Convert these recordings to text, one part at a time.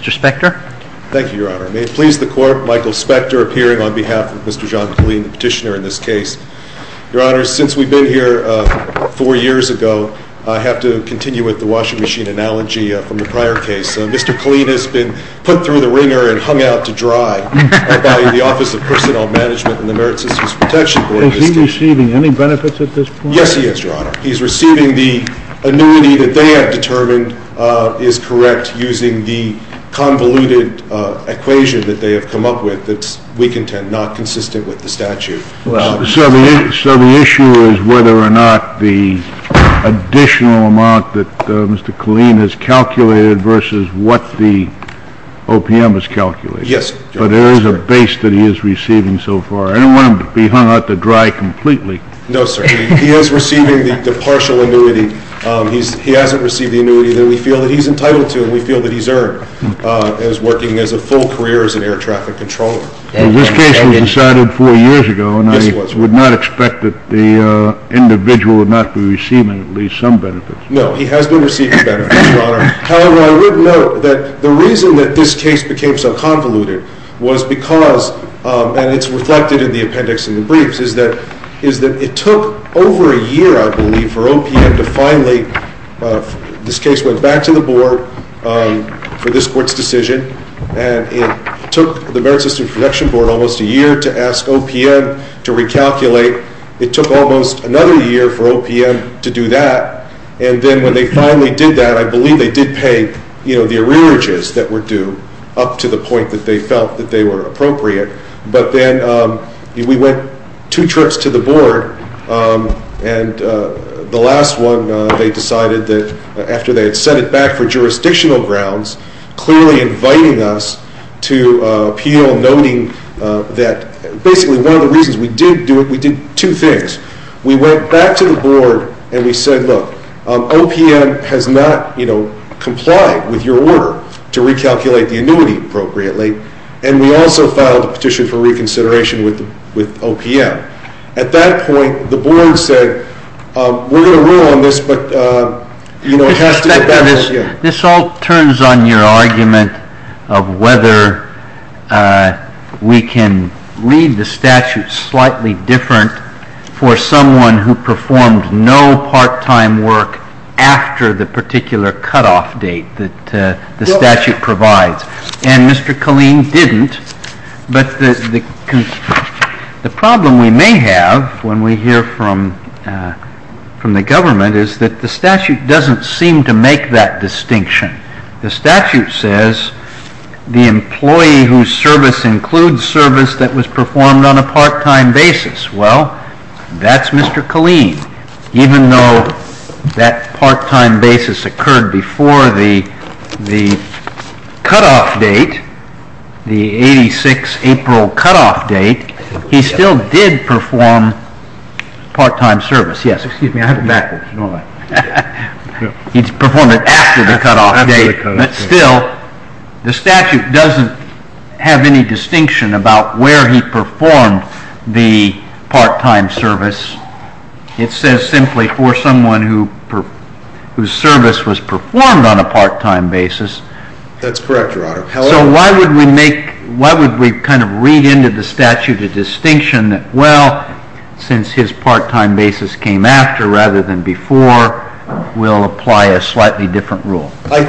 Thank you, Your Honor. May it please the Court, Michael Spector appearing on behalf of Mr. John Killeen, the petitioner in this case. Your Honor, since we've been here four years ago, I have to continue with the washing machine analogy from the prior case. Mr. Killeen has been put through the wringer and hung out to dry by the Office of Personnel Management and the Merit Systems Protection Board. Is he receiving any benefits at this point? Yes, he is, Your Honor. He is receiving the annuity that they have determined is correct using the convoluted equation that they have come up with that's weak intent, not consistent with the statute. So the issue is whether or not the additional amount that Mr. Killeen has calculated versus what the OPM has calculated? Yes, Your Honor. But there is a base that he is receiving so far. I don't want him to be hung out to dry completely. No, sir. He is receiving the partial annuity. He hasn't received the annuity that we feel that he's entitled to and we feel that he's earned as working as a full career as an air traffic controller. This case was decided four years ago, and I would not expect that the individual would not be receiving at least some benefits. No, he has been receiving benefits, Your Honor. However, I would note that the reason that this case became so convoluted was because, and it's reflected in the appendix in the briefs, is that it took over a year, I believe, for OPM to finally, this case went back to the Board for this Court's decision, and it took the Merit Systems Protection Board almost a year to ask OPM to recalculate. It took almost another year for OPM to do that. And then when they finally did that, I believe they did pay the arrearages that were due up to the point that they felt that they were appropriate. But then we went two trips to the Board, and the last one they decided that after they had sent it back for jurisdictional grounds, clearly inviting us to appeal, noting that basically one of the reasons we did do it, we did two things. We went back to the Board and we said, look, OPM has not complied with your order to recalculate the annuity appropriately, and we also filed a petition for reconsideration with OPM. At that point, the Board said, we're going to rule on this, but it has to get back to OPM. This all turns on your argument of whether we can read the statute slightly different for someone who performed no part-time work after the particular cutoff date that the statute provides. And Mr. Killeen didn't. But the problem we may have when we hear from the government is that the statute doesn't seem to make that distinction. The statute says the employee whose service includes service that was performed on a part-time basis. Well, that's Mr. Killeen. Even though that part-time basis occurred before the cutoff date, the 86 April cutoff date, he still did perform part-time service. Yes. Excuse me, I have it backwards. He performed it after the cutoff date. But still, the statute doesn't have any distinction about where he performed the part-time service. It says simply for someone whose service was performed on a part-time basis. That's correct, Your Honor. So why would we make, why would we kind of read into the statute a distinction that, well, since his part-time basis came after rather than before, we'll apply a slightly different rule? I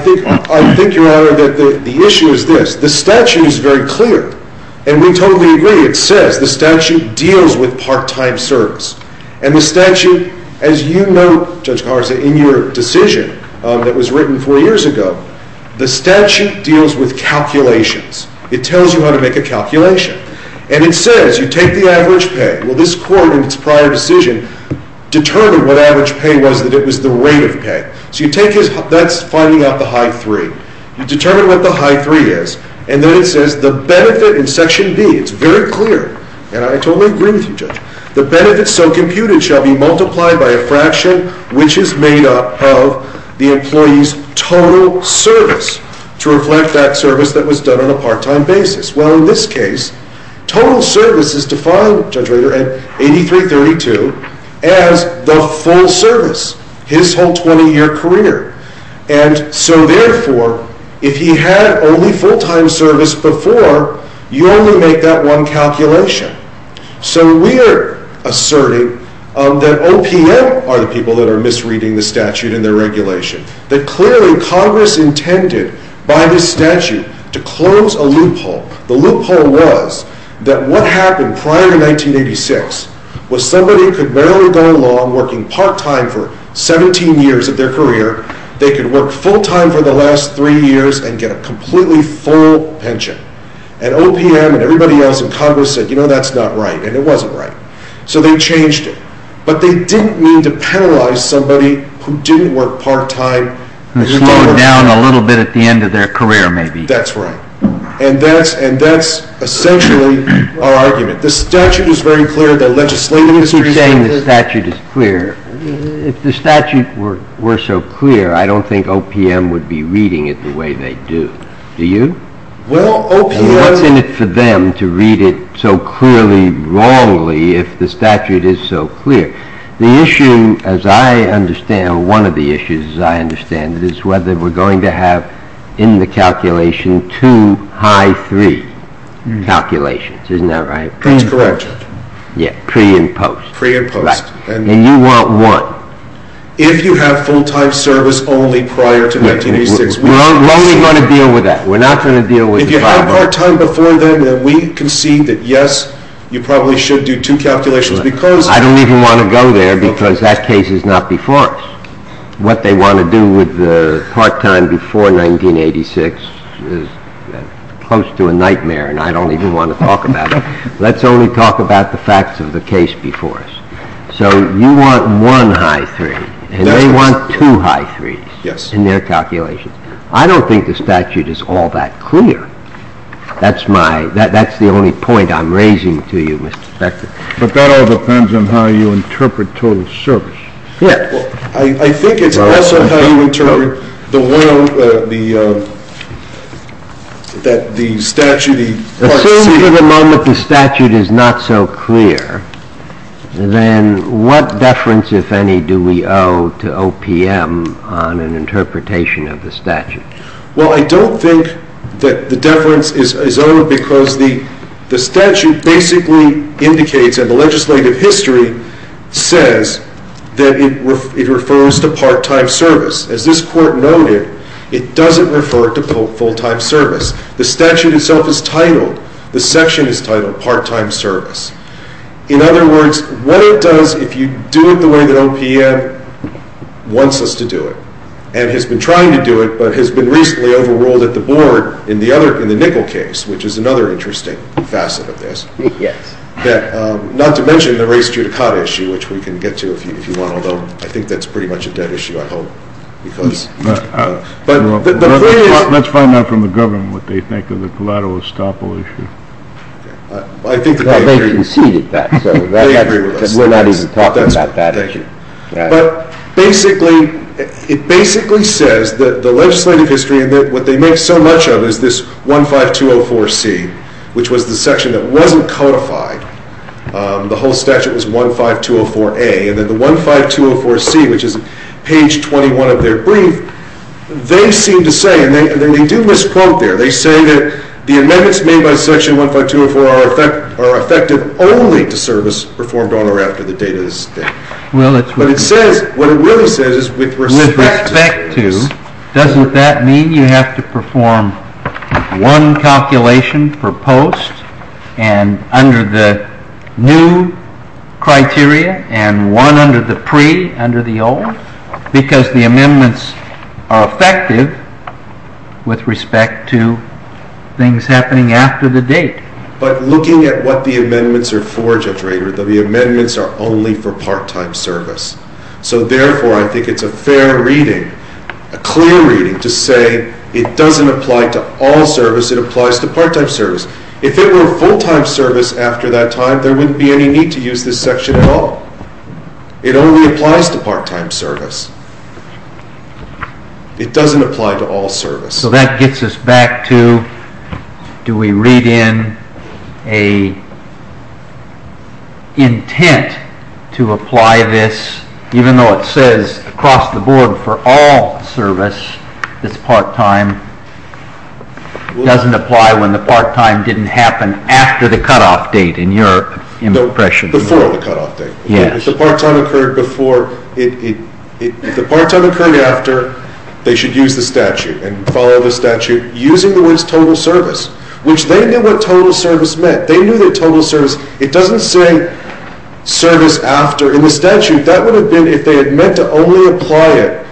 think, Your Honor, that the issue is this. The statute is very clear, and we totally agree. It says the statute deals with part-time service. And the statute, as you note, Judge Carr, in your decision that was written four years ago, the statute deals with calculations. It tells you how to make a calculation. And it says you take the average pay. Well, this court in its prior decision determined what average pay was, that it was the rate of pay. So you take his, that's finding out the high three. You determine what the high three is. And then it says the benefit in Section B, it's very clear, and I totally agree with you, Judge, the benefit so computed shall be multiplied by a fraction which is made up of the employee's total service to reflect that service that was done on a part-time basis. Well, in this case, total service is defined, Judge Rader, at 8332 as the full service. His whole 20-year career. And so, therefore, if he had only full-time service before, you only make that one calculation. So we are asserting that OPM are the people that are misreading the statute in their regulation, that clearly Congress intended by this statute to close a loophole. The loophole was that what happened prior to 1986 was somebody could barely go along working part-time for 17 years of their career. They could work full-time for the last three years and get a completely full pension. And OPM and everybody else in Congress said, you know, that's not right. And it wasn't right. So they changed it. But they didn't mean to penalize somebody who didn't work part-time. Who slowed down a little bit at the end of their career, maybe. That's right. And that's essentially our argument. The statute is very clear. The legislative industry is very clear. You keep saying the statute is clear. If the statute were so clear, I don't think OPM would be reading it the way they do. Do you? Well, OPM And what's in it for them to read it so clearly wrongly if the statute is so clear? The issue, as I understand, one of the issues, as I understand it, is whether we're going to have in the calculation two high three calculations. Isn't that right? That's correct. Yeah. Pre and post. Pre and post. Right. And you want one. If you have full-time service only prior to 1986. We're only going to deal with that. We're not going to deal with the five-part. If you have part-time before then, then we concede that, yes, you probably should do two calculations because I don't even want to go there because that case is not before us. What they want to do with the part-time before 1986 is close to a nightmare and I don't even want to talk about it. Let's only talk about the facts of the case before us. So you want one high three and they want two high threes in their calculations. I don't think the statute is all that clear. That's the only point I'm raising to you, Mr. Spector. But that all depends on how you interpret total service. I think it's also how you interpret the statute. Assuming for the moment the statute is not so clear, then what deference, if any, do we owe to OPM on an interpretation of the statute? Well, I don't think that the deference is owed because the statute basically indicates and the legislative history says that it refers to part-time service. As this Court noted, it doesn't refer to full-time service. The statute itself is titled, the section is titled part-time service. In other words, what it does if you do it the way that OPM wants us to do it and has been trying to do it but has been recently overruled at the board in the nickel case, which is another interesting facet of this. Not to mention the race judicata issue, which we can get to if you want, although I think that's pretty much a dead issue, I hope. Let's find out from the government what they think of the collateral estoppel issue. They conceded that. They agree with us. We're not even talking about that issue. But it basically says that the legislative history, what they make so much of is this 15204C, which was the section that wasn't codified. The whole statute was 15204A, and then the 15204C, which is page 21 of their brief, they seem to say, and they do misquote there, they say that the amendments made by section 15204 are effective only to service performed on or after the date of this date. But it says, what it really says is with respect to. With respect to, doesn't that mean you have to perform one calculation for post and under the new criteria and one under the pre, under the old? Because the amendments are effective with respect to things happening after the date. But looking at what the amendments are for, Judge Rader, the amendments are only for part-time service. So, therefore, I think it's a fair reading, a clear reading, to say it doesn't apply to all service, it applies to part-time service. If it were a full-time service after that time, there wouldn't be any need to use this section at all. It only applies to part-time service. It doesn't apply to all service. So that gets us back to, do we read in an intent to apply this, even though it says across the board for all service, this part-time doesn't apply when the part-time didn't happen after the cutoff date, in your impression. Before the cutoff date. Yes. If the part-time occurred before, if the part-time occurred after, they should use the statute and follow the statute using the words total service, which they knew what total service meant. They knew that total service, it doesn't say service after. In the statute, that would have been, if they had meant to only apply it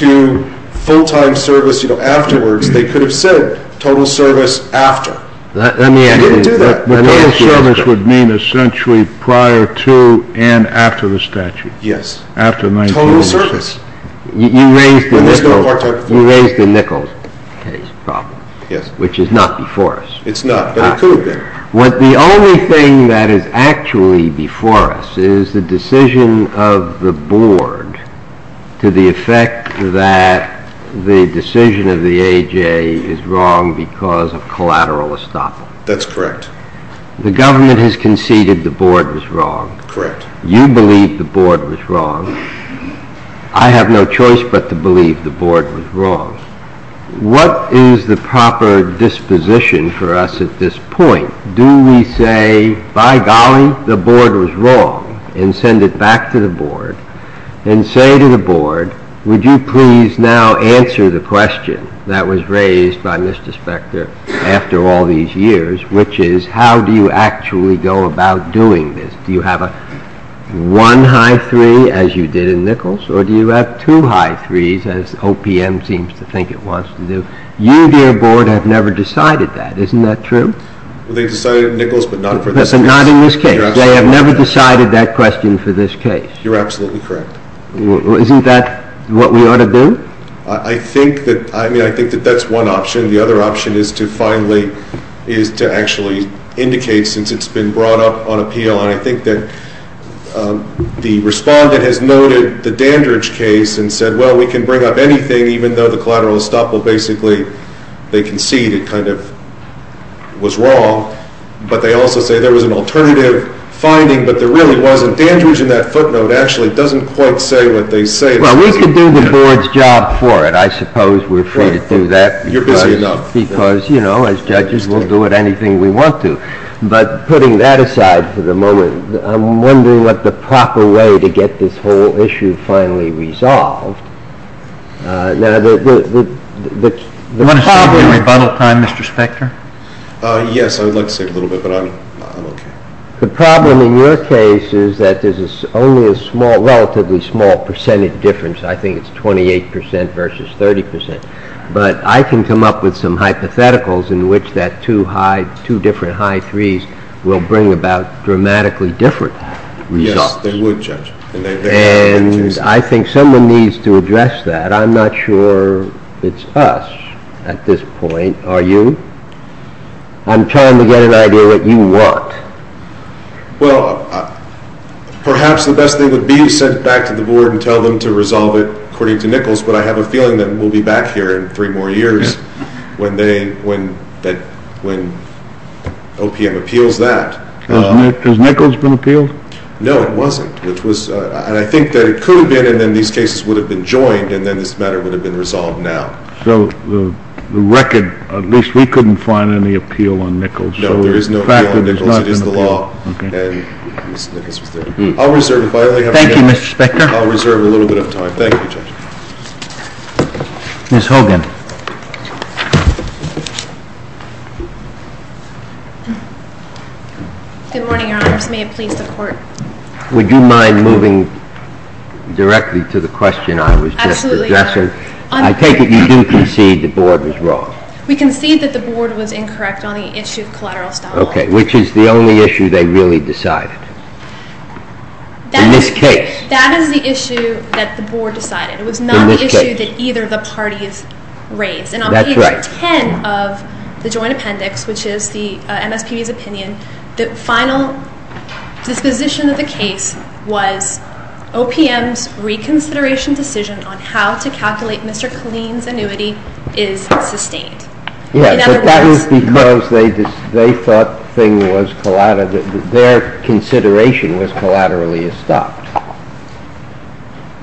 to full-time service, you know, afterwards, they could have said total service after. They didn't do that. Total service would mean essentially prior to and after the statute. Yes. Total service. You raised the Nichols case problem, which is not before us. It's not, but it could have been. The only thing that is actually before us is the decision of the board to the effect that the decision of the AJA is wrong because of collateral estoppel. That's correct. The government has conceded the board was wrong. Correct. You believe the board was wrong. I have no choice but to believe the board was wrong. What is the proper disposition for us at this point? Do we say, by golly, the board was wrong and send it back to the board and say to the board, would you please now answer the question that was raised by Mr. Spector after all these years, which is how do you actually go about doing this? Do you have a one high three as you did in Nichols or do you have two high threes as OPM seems to think it wants to do? You, dear board, have never decided that. Isn't that true? Well, they decided in Nichols but not in this case. But not in this case. They have never decided that question for this case. You're absolutely correct. Isn't that what we ought to do? I think that that's one option. The other option is to actually indicate since it's been brought up on appeal. I think that the respondent has noted the Dandridge case and said, well, we can bring up anything even though the collateral estoppel basically they conceded kind of was wrong. But they also say there was an alternative finding but there really wasn't. Dandridge in that footnote actually doesn't quite say what they say. Well, we could do the board's job for it. I suppose we're free to do that. You're busy enough. Because, you know, as judges, we'll do it anything we want to. But putting that aside for the moment, I'm wondering what the proper way to get this whole issue finally resolved. Do you want to speak in rebuttal time, Mr. Spector? Yes, I would like to speak a little bit but I'm okay. The problem in your case is that there's only a relatively small percentage difference. I think it's 28% versus 30%. But I can come up with some hypotheticals in which that two different high threes will bring about dramatically different results. Yes, they would, Judge. And I think someone needs to address that. I'm not sure it's us at this point. Are you? I'm trying to get an idea what you want. Well, perhaps the best thing would be to send it back to the board and tell them to resolve it according to Nichols. But I have a feeling that we'll be back here in three more years when OPM appeals that. Has Nichols been appealed? No, it wasn't. And I think that it could have been and then these cases would have been joined and then this matter would have been resolved now. So the record, at least we couldn't find any appeal on Nichols. No, there is no appeal on Nichols. It is the law. Thank you, Mr. Spector. I'll reserve a little bit of time. Thank you, Judge. Ms. Hogan. Good morning, Your Honors. May it please the Court. Would you mind moving directly to the question I was just addressing? Absolutely not. I take it you do concede the board was wrong. We concede that the board was incorrect on the issue of collateral style law. Okay, which is the only issue they really decided. In this case. That is the issue that the board decided. It was not the issue that either of the parties raised. And on page 10 of the joint appendix, which is the MSPB's opinion, the final disposition of the case was OPM's reconsideration decision on how to calculate Mr. Killeen's annuity is sustained. Yes, but that was because they thought their consideration was collaterally estopped.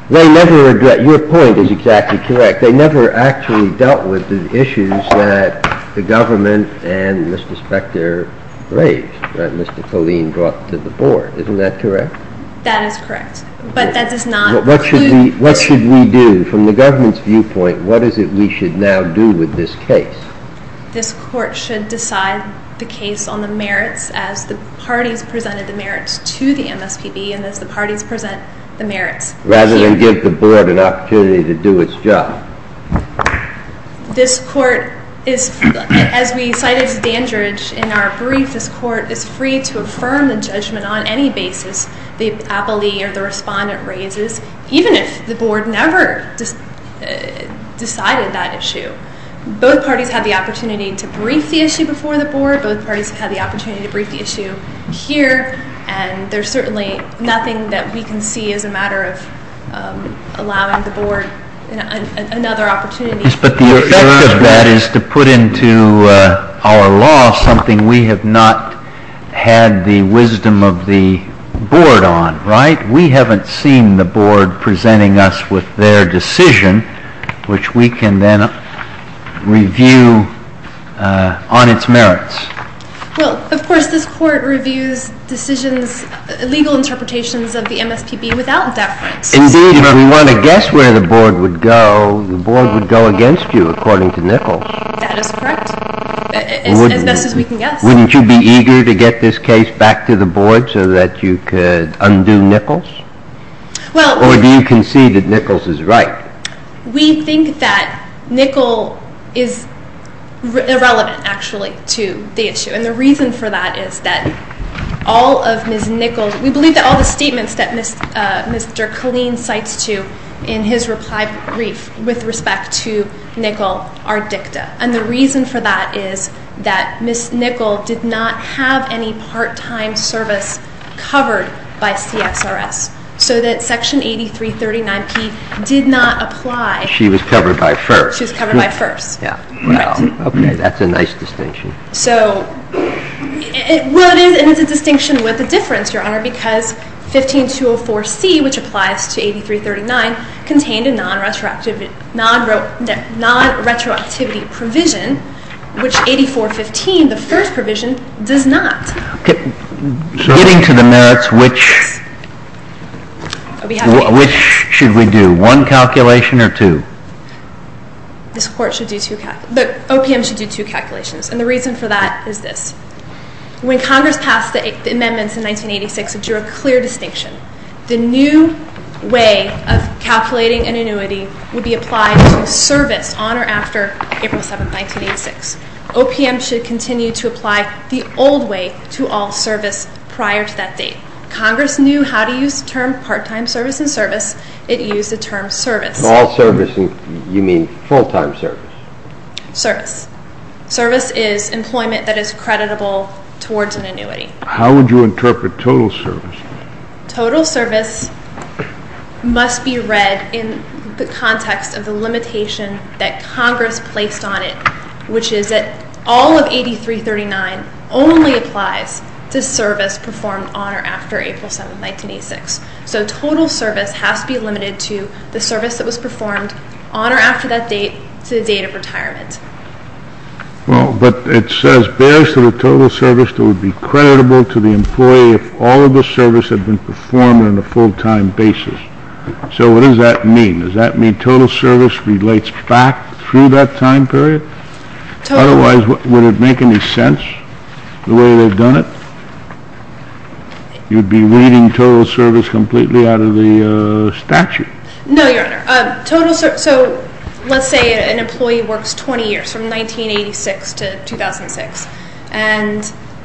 Your point is exactly correct. They never actually dealt with the issues that the government and Mr. Spector raised that Mr. Killeen brought to the board. Isn't that correct? That is correct. What should we do? From the government's viewpoint, what is it we should now do with this case? This court should decide the case on the merits as the parties presented the merits to the MSPB and as the parties present the merits here. Rather than give the board an opportunity to do its job. This court is, as we cited to Dandridge in our brief, this court is free to affirm the judgment on any basis the appellee or the respondent raises, even if the board never decided that issue. Both parties had the opportunity to brief the issue before the board. Both parties had the opportunity to brief the issue here. And there's certainly nothing that we can see as a matter of allowing the board another opportunity. But the effect of that is to put into our law something we have not had the wisdom of the board on, right? We haven't seen the board presenting us with their decision, which we can then review on its merits. Well, of course, this court reviews decisions, legal interpretations of the MSPB without deference. Indeed, if we want to guess where the board would go, the board would go against you, according to Nichols. That is correct, as best as we can guess. Wouldn't you be eager to get this case back to the board so that you could undo Nichols? Or do you concede that Nichols is right? We think that Nichols is irrelevant, actually, to the issue. And the reason for that is that all of Ms. Nichols, we believe that all the statements that Mr. Killeen cites to in his reply brief with respect to Nichols are dicta. And the reason for that is that Ms. Nichols did not have any part-time service covered by CSRS. So that Section 8339P did not apply. She was covered by FERS. She was covered by FERS. Yeah. Wow. Okay, that's a nice distinction. So, well, it is a distinction with a difference, Your Honor, because 15204C, which applies to 8339, contained a non-retroactivity provision, which 8415, the first provision, does not. Getting to the merits, which should we do? One calculation or two? OPM should do two calculations. And the reason for that is this. When Congress passed the amendments in 1986, it drew a clear distinction. The new way of calculating an annuity would be applied to service on or after April 7, 1986. OPM should continue to apply the old way to all service prior to that date. Congress knew how to use the term part-time service and service. It used the term service. All service, and you mean full-time service? Service. Service is employment that is creditable towards an annuity. How would you interpret total service? Total service must be read in the context of the limitation that Congress placed on it, which is that all of 8339 only applies to service performed on or after April 7, 1986. So total service has to be limited to the service that was performed on or after that date to the date of retirement. Well, but it says, bears to the total service that would be creditable to the employee if all of the service had been performed on a full-time basis. So what does that mean? Does that mean total service relates back through that time period? Otherwise, would it make any sense the way they've done it? You'd be reading total service completely out of the statute. No, Your Honor. So let's say an employee works 20 years, from 1986 to 2006, and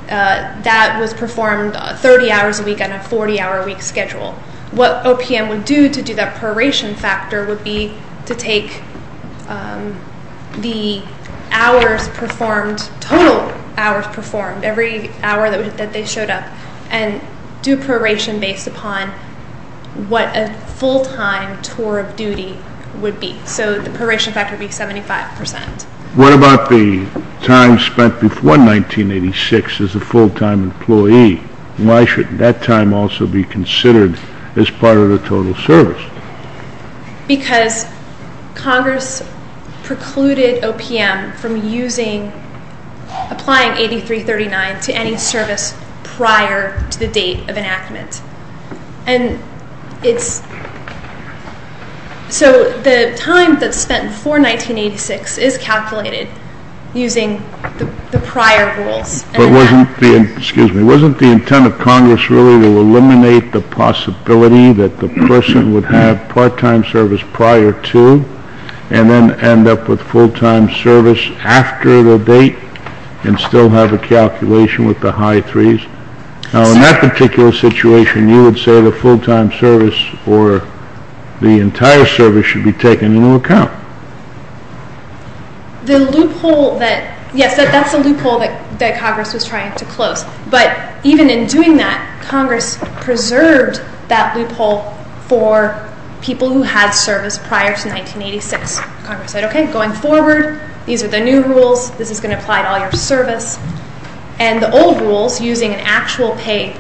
that was performed 30 hours a week on a 40-hour week schedule. What OPM would do to do that proration factor would be to take the hours performed, total hours performed, every hour that they showed up, and do proration based upon what a full-time tour of duty would be. So the proration factor would be 75%. What about the time spent before 1986 as a full-time employee? Why should that time also be considered as part of the total service? Because Congress precluded OPM from applying 8339 to any service prior to the date of enactment. So the time that's spent before 1986 is calculated using the prior rules. But wasn't the intent of Congress really to eliminate the possibility that the person would have part-time service prior to and then end up with full-time service after the date and still have a calculation with the high threes? Now, in that particular situation, you would say the full-time service or the entire service should be taken into account. Yes, that's the loophole that Congress was trying to close. But even in doing that, Congress preserved that loophole for people who had service prior to 1986. Congress said, okay, going forward, these are the new rules. This is going to apply to all your service. And the old rules using an actual pay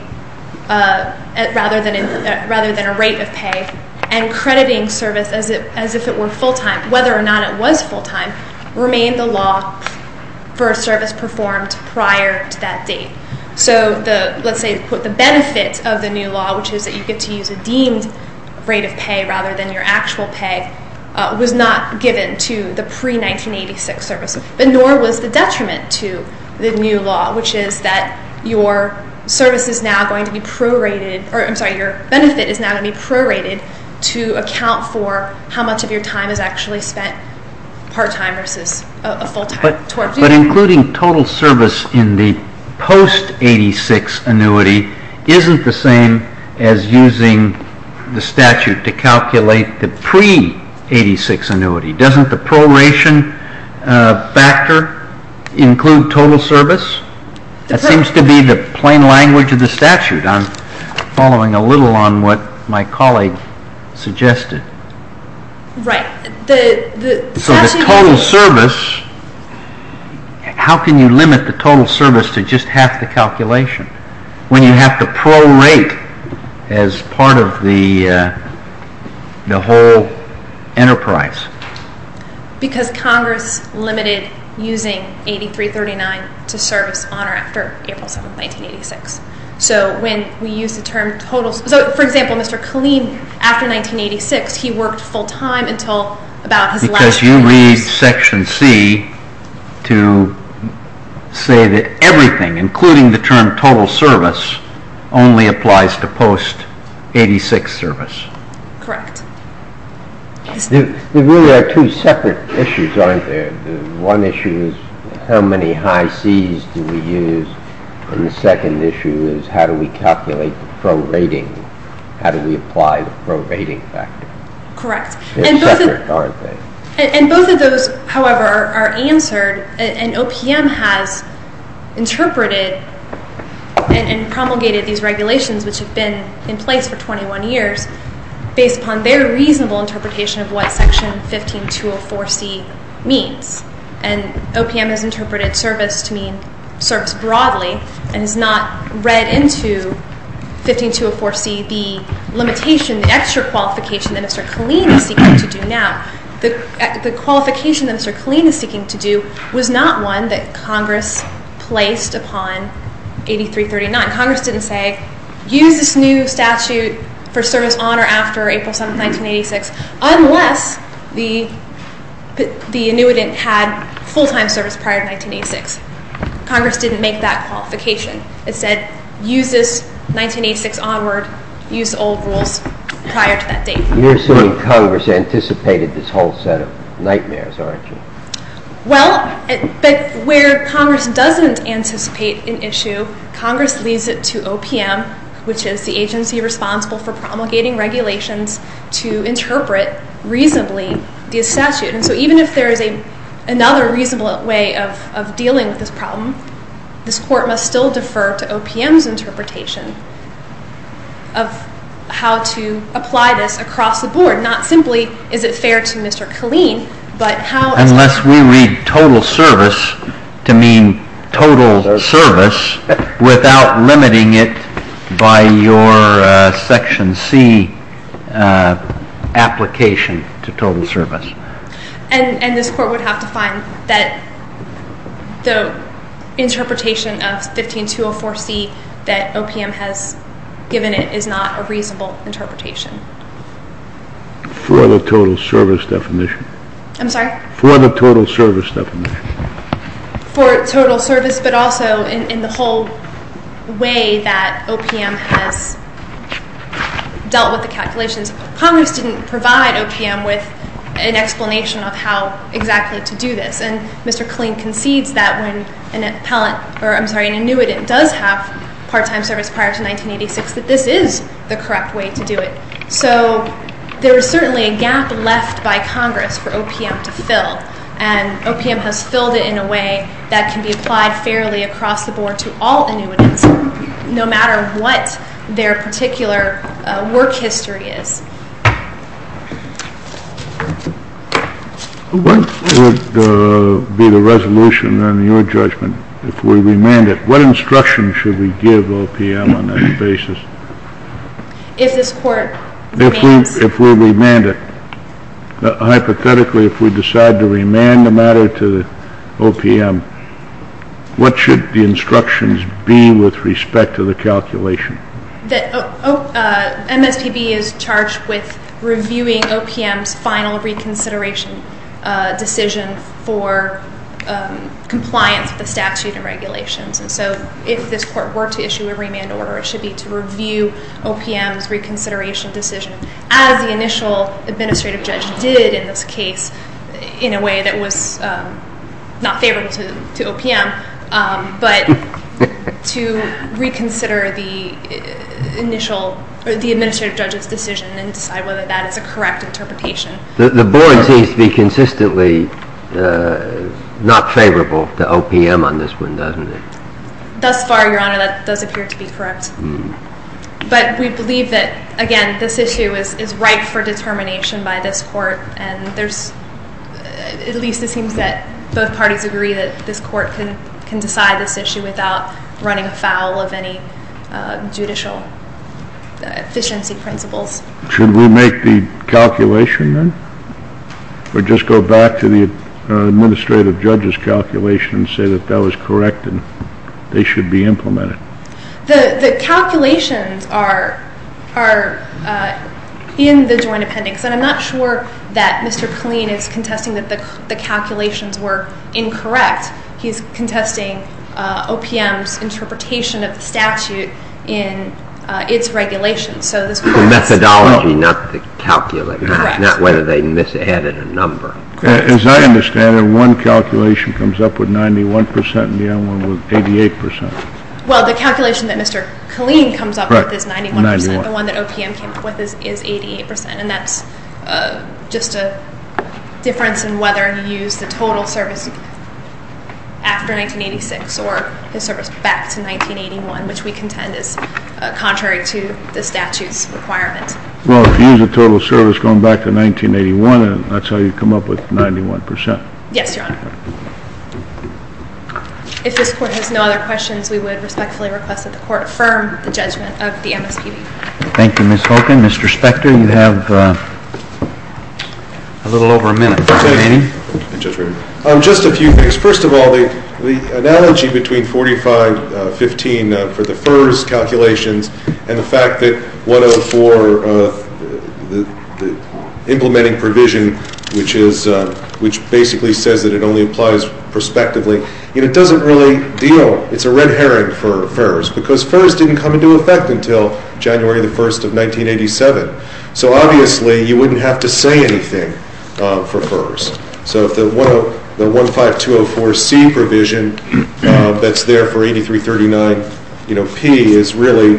rather than a rate of pay and crediting service as if it were full-time, whether or not it was full-time, remained the law for a service performed prior to that date. So let's say the benefit of the new law, which is that you get to use a deemed rate of pay rather than your actual pay, was not given to the pre-1986 service. But nor was the detriment to the new law, which is that your service is now going to be prorated, or I'm sorry, your benefit is now going to be prorated to account for how much of your time is actually spent part-time versus a full-time. But including total service in the post-86 annuity isn't the same as using the statute to calculate the pre-86 annuity. Doesn't the proration factor include total service? That seems to be the plain language of the statute. I'm following a little on what my colleague suggested. So the total service, how can you limit the total service to just half the calculation when you have to prorate as part of the whole enterprise? Because Congress limited using 8339 to service on or after April 7, 1986. So for example, Mr. Killeen, after 1986, he worked full-time until about his last few years. Because you read Section C to say that everything, including the term total service, only applies to post-86 service. Correct. There really are two separate issues, aren't there? One issue is how many high Cs do we use? And the second issue is how do we calculate the prorating? How do we apply the prorating factor? Correct. They're separate, aren't they? And both of those, however, are answered. And OPM has interpreted and promulgated these regulations, which have been in place for 21 years, based upon their reasonable interpretation of what Section 15204C means. And OPM has interpreted service to mean service broadly and has not read into 15204C the limitation, the extra qualification that Mr. Killeen is seeking to do now. The qualification that Mr. Killeen is seeking to do was not one that Congress placed upon 8339. Congress didn't say, use this new statute for service on or after April 7, 1986, unless the annuitant had full-time service prior to 1986. Congress didn't make that qualification. It said, use this 1986 onward, use the old rules prior to that date. You're saying Congress anticipated this whole set of nightmares, aren't you? Well, where Congress doesn't anticipate an issue, Congress leads it to OPM, which is the agency responsible for promulgating regulations to interpret reasonably the statute. And so even if there is another reasonable way of dealing with this problem, this Court must still defer to OPM's interpretation of how to apply this across the board. Not simply, is it fair to Mr. Killeen, but how... Unless we read total service to mean total service without limiting it by your Section C application to total service. And this Court would have to find that the interpretation of 15204C that OPM has given it is not a reasonable interpretation. For the total service definition. I'm sorry? For the total service definition. For total service, but also in the whole way that OPM has dealt with the calculations. Congress didn't provide OPM with an explanation of how exactly to do this. And Mr. Killeen concedes that when an annuitant does have part-time service prior to 1986, that this is the correct way to do it. So there is certainly a gap left by Congress for OPM to fill. And OPM has filled it in a way that can be applied fairly across the board to all annuitants, no matter what their particular work history is. What would be the resolution on your judgment if we remand it? What instruction should we give OPM on that basis? If this Court remands... If we remand it, hypothetically if we decide to remand the matter to OPM, what should the instructions be with respect to the calculation? MSPB is charged with reviewing OPM's final reconsideration decision for compliance with the statute and regulations. And so if this Court were to issue a remand order, it should be to review OPM's reconsideration decision, as the initial administrative judge did in this case in a way that was not favorable to OPM, but to reconsider the administrative judge's decision and decide whether that is a correct interpretation. The board seems to be consistently not favorable to OPM on this one, doesn't it? Thus far, Your Honor, that does appear to be correct. But we believe that, again, this issue is ripe for determination by this Court, and at least it seems that both parties agree that this Court can decide this issue without running afoul of any judicial efficiency principles. Should we make the calculation then? Or just go back to the administrative judge's calculation and say that that was correct and they should be implemented? The calculations are in the joint appendix, and I'm not sure that Mr. Killeen is contesting that the calculations were incorrect. He's contesting OPM's interpretation of the statute in its regulations. The methodology, not the calculations, not whether they misadded a number. As I understand it, one calculation comes up with 91 percent and the other one with 88 percent. Well, the calculation that Mr. Killeen comes up with is 91 percent. The one that OPM came up with is 88 percent, and that's just a difference in whether he used the total service after 1986 or his service back to 1981, which we contend is contrary to the statute's requirement. Well, if he used the total service going back to 1981, that's how you come up with 91 percent. Yes, Your Honor. If this Court has no other questions, we would respectfully request that the Court affirm the judgment of the MSPB. Thank you, Ms. Hogan. Mr. Spector, you have a little over a minute. Thank you. Just a few things. First of all, the analogy between 4515 for the FERS calculations and the fact that 104, the implementing provision, which basically says that it only applies prospectively, it doesn't really deal. It's a red herring for FERS because FERS didn't come into effect until January 1, 1987. So obviously you wouldn't have to say anything for FERS. So the 15204C provision that's there for 8339P is really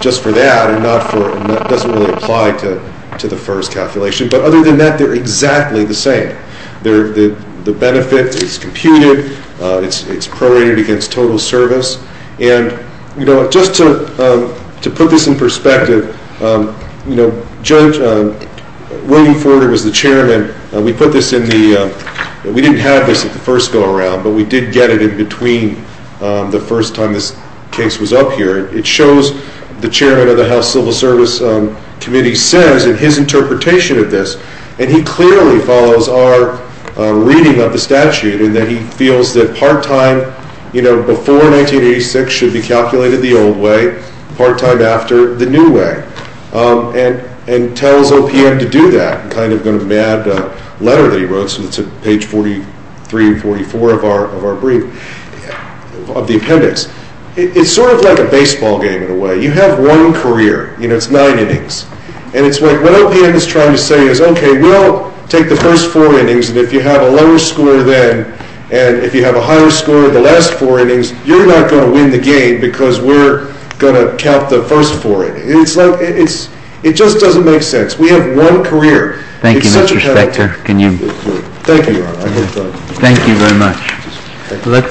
just for that and doesn't really apply to the FERS calculation. But other than that, they're exactly the same. The benefit is computed. It's prorated against total service. And just to put this in perspective, Judge William Forder was the chairman. We didn't have this at the first go-around, but we did get it in between the first time this case was up here. It shows the chairman of the House Civil Service Committee says in his interpretation of this, and he clearly follows our reading of the statute in that he feels that part-time before 1986 should be calculated the old way, part-time after the new way, and tells OPM to do that. I'm kind of going to add a letter that he wrote, so it's at page 43 and 44 of our brief, of the appendix. It's sort of like a baseball game in a way. You have one career. It's nine innings. And what OPM is trying to say is, okay, we'll take the first four innings, and if you have a lower score then and if you have a higher score in the last four innings, you're not going to win the game because we're going to count the first four innings. It just doesn't make sense. We have one career. It's such a catalytic thing. Thank you, Your Honor. Thank you very much.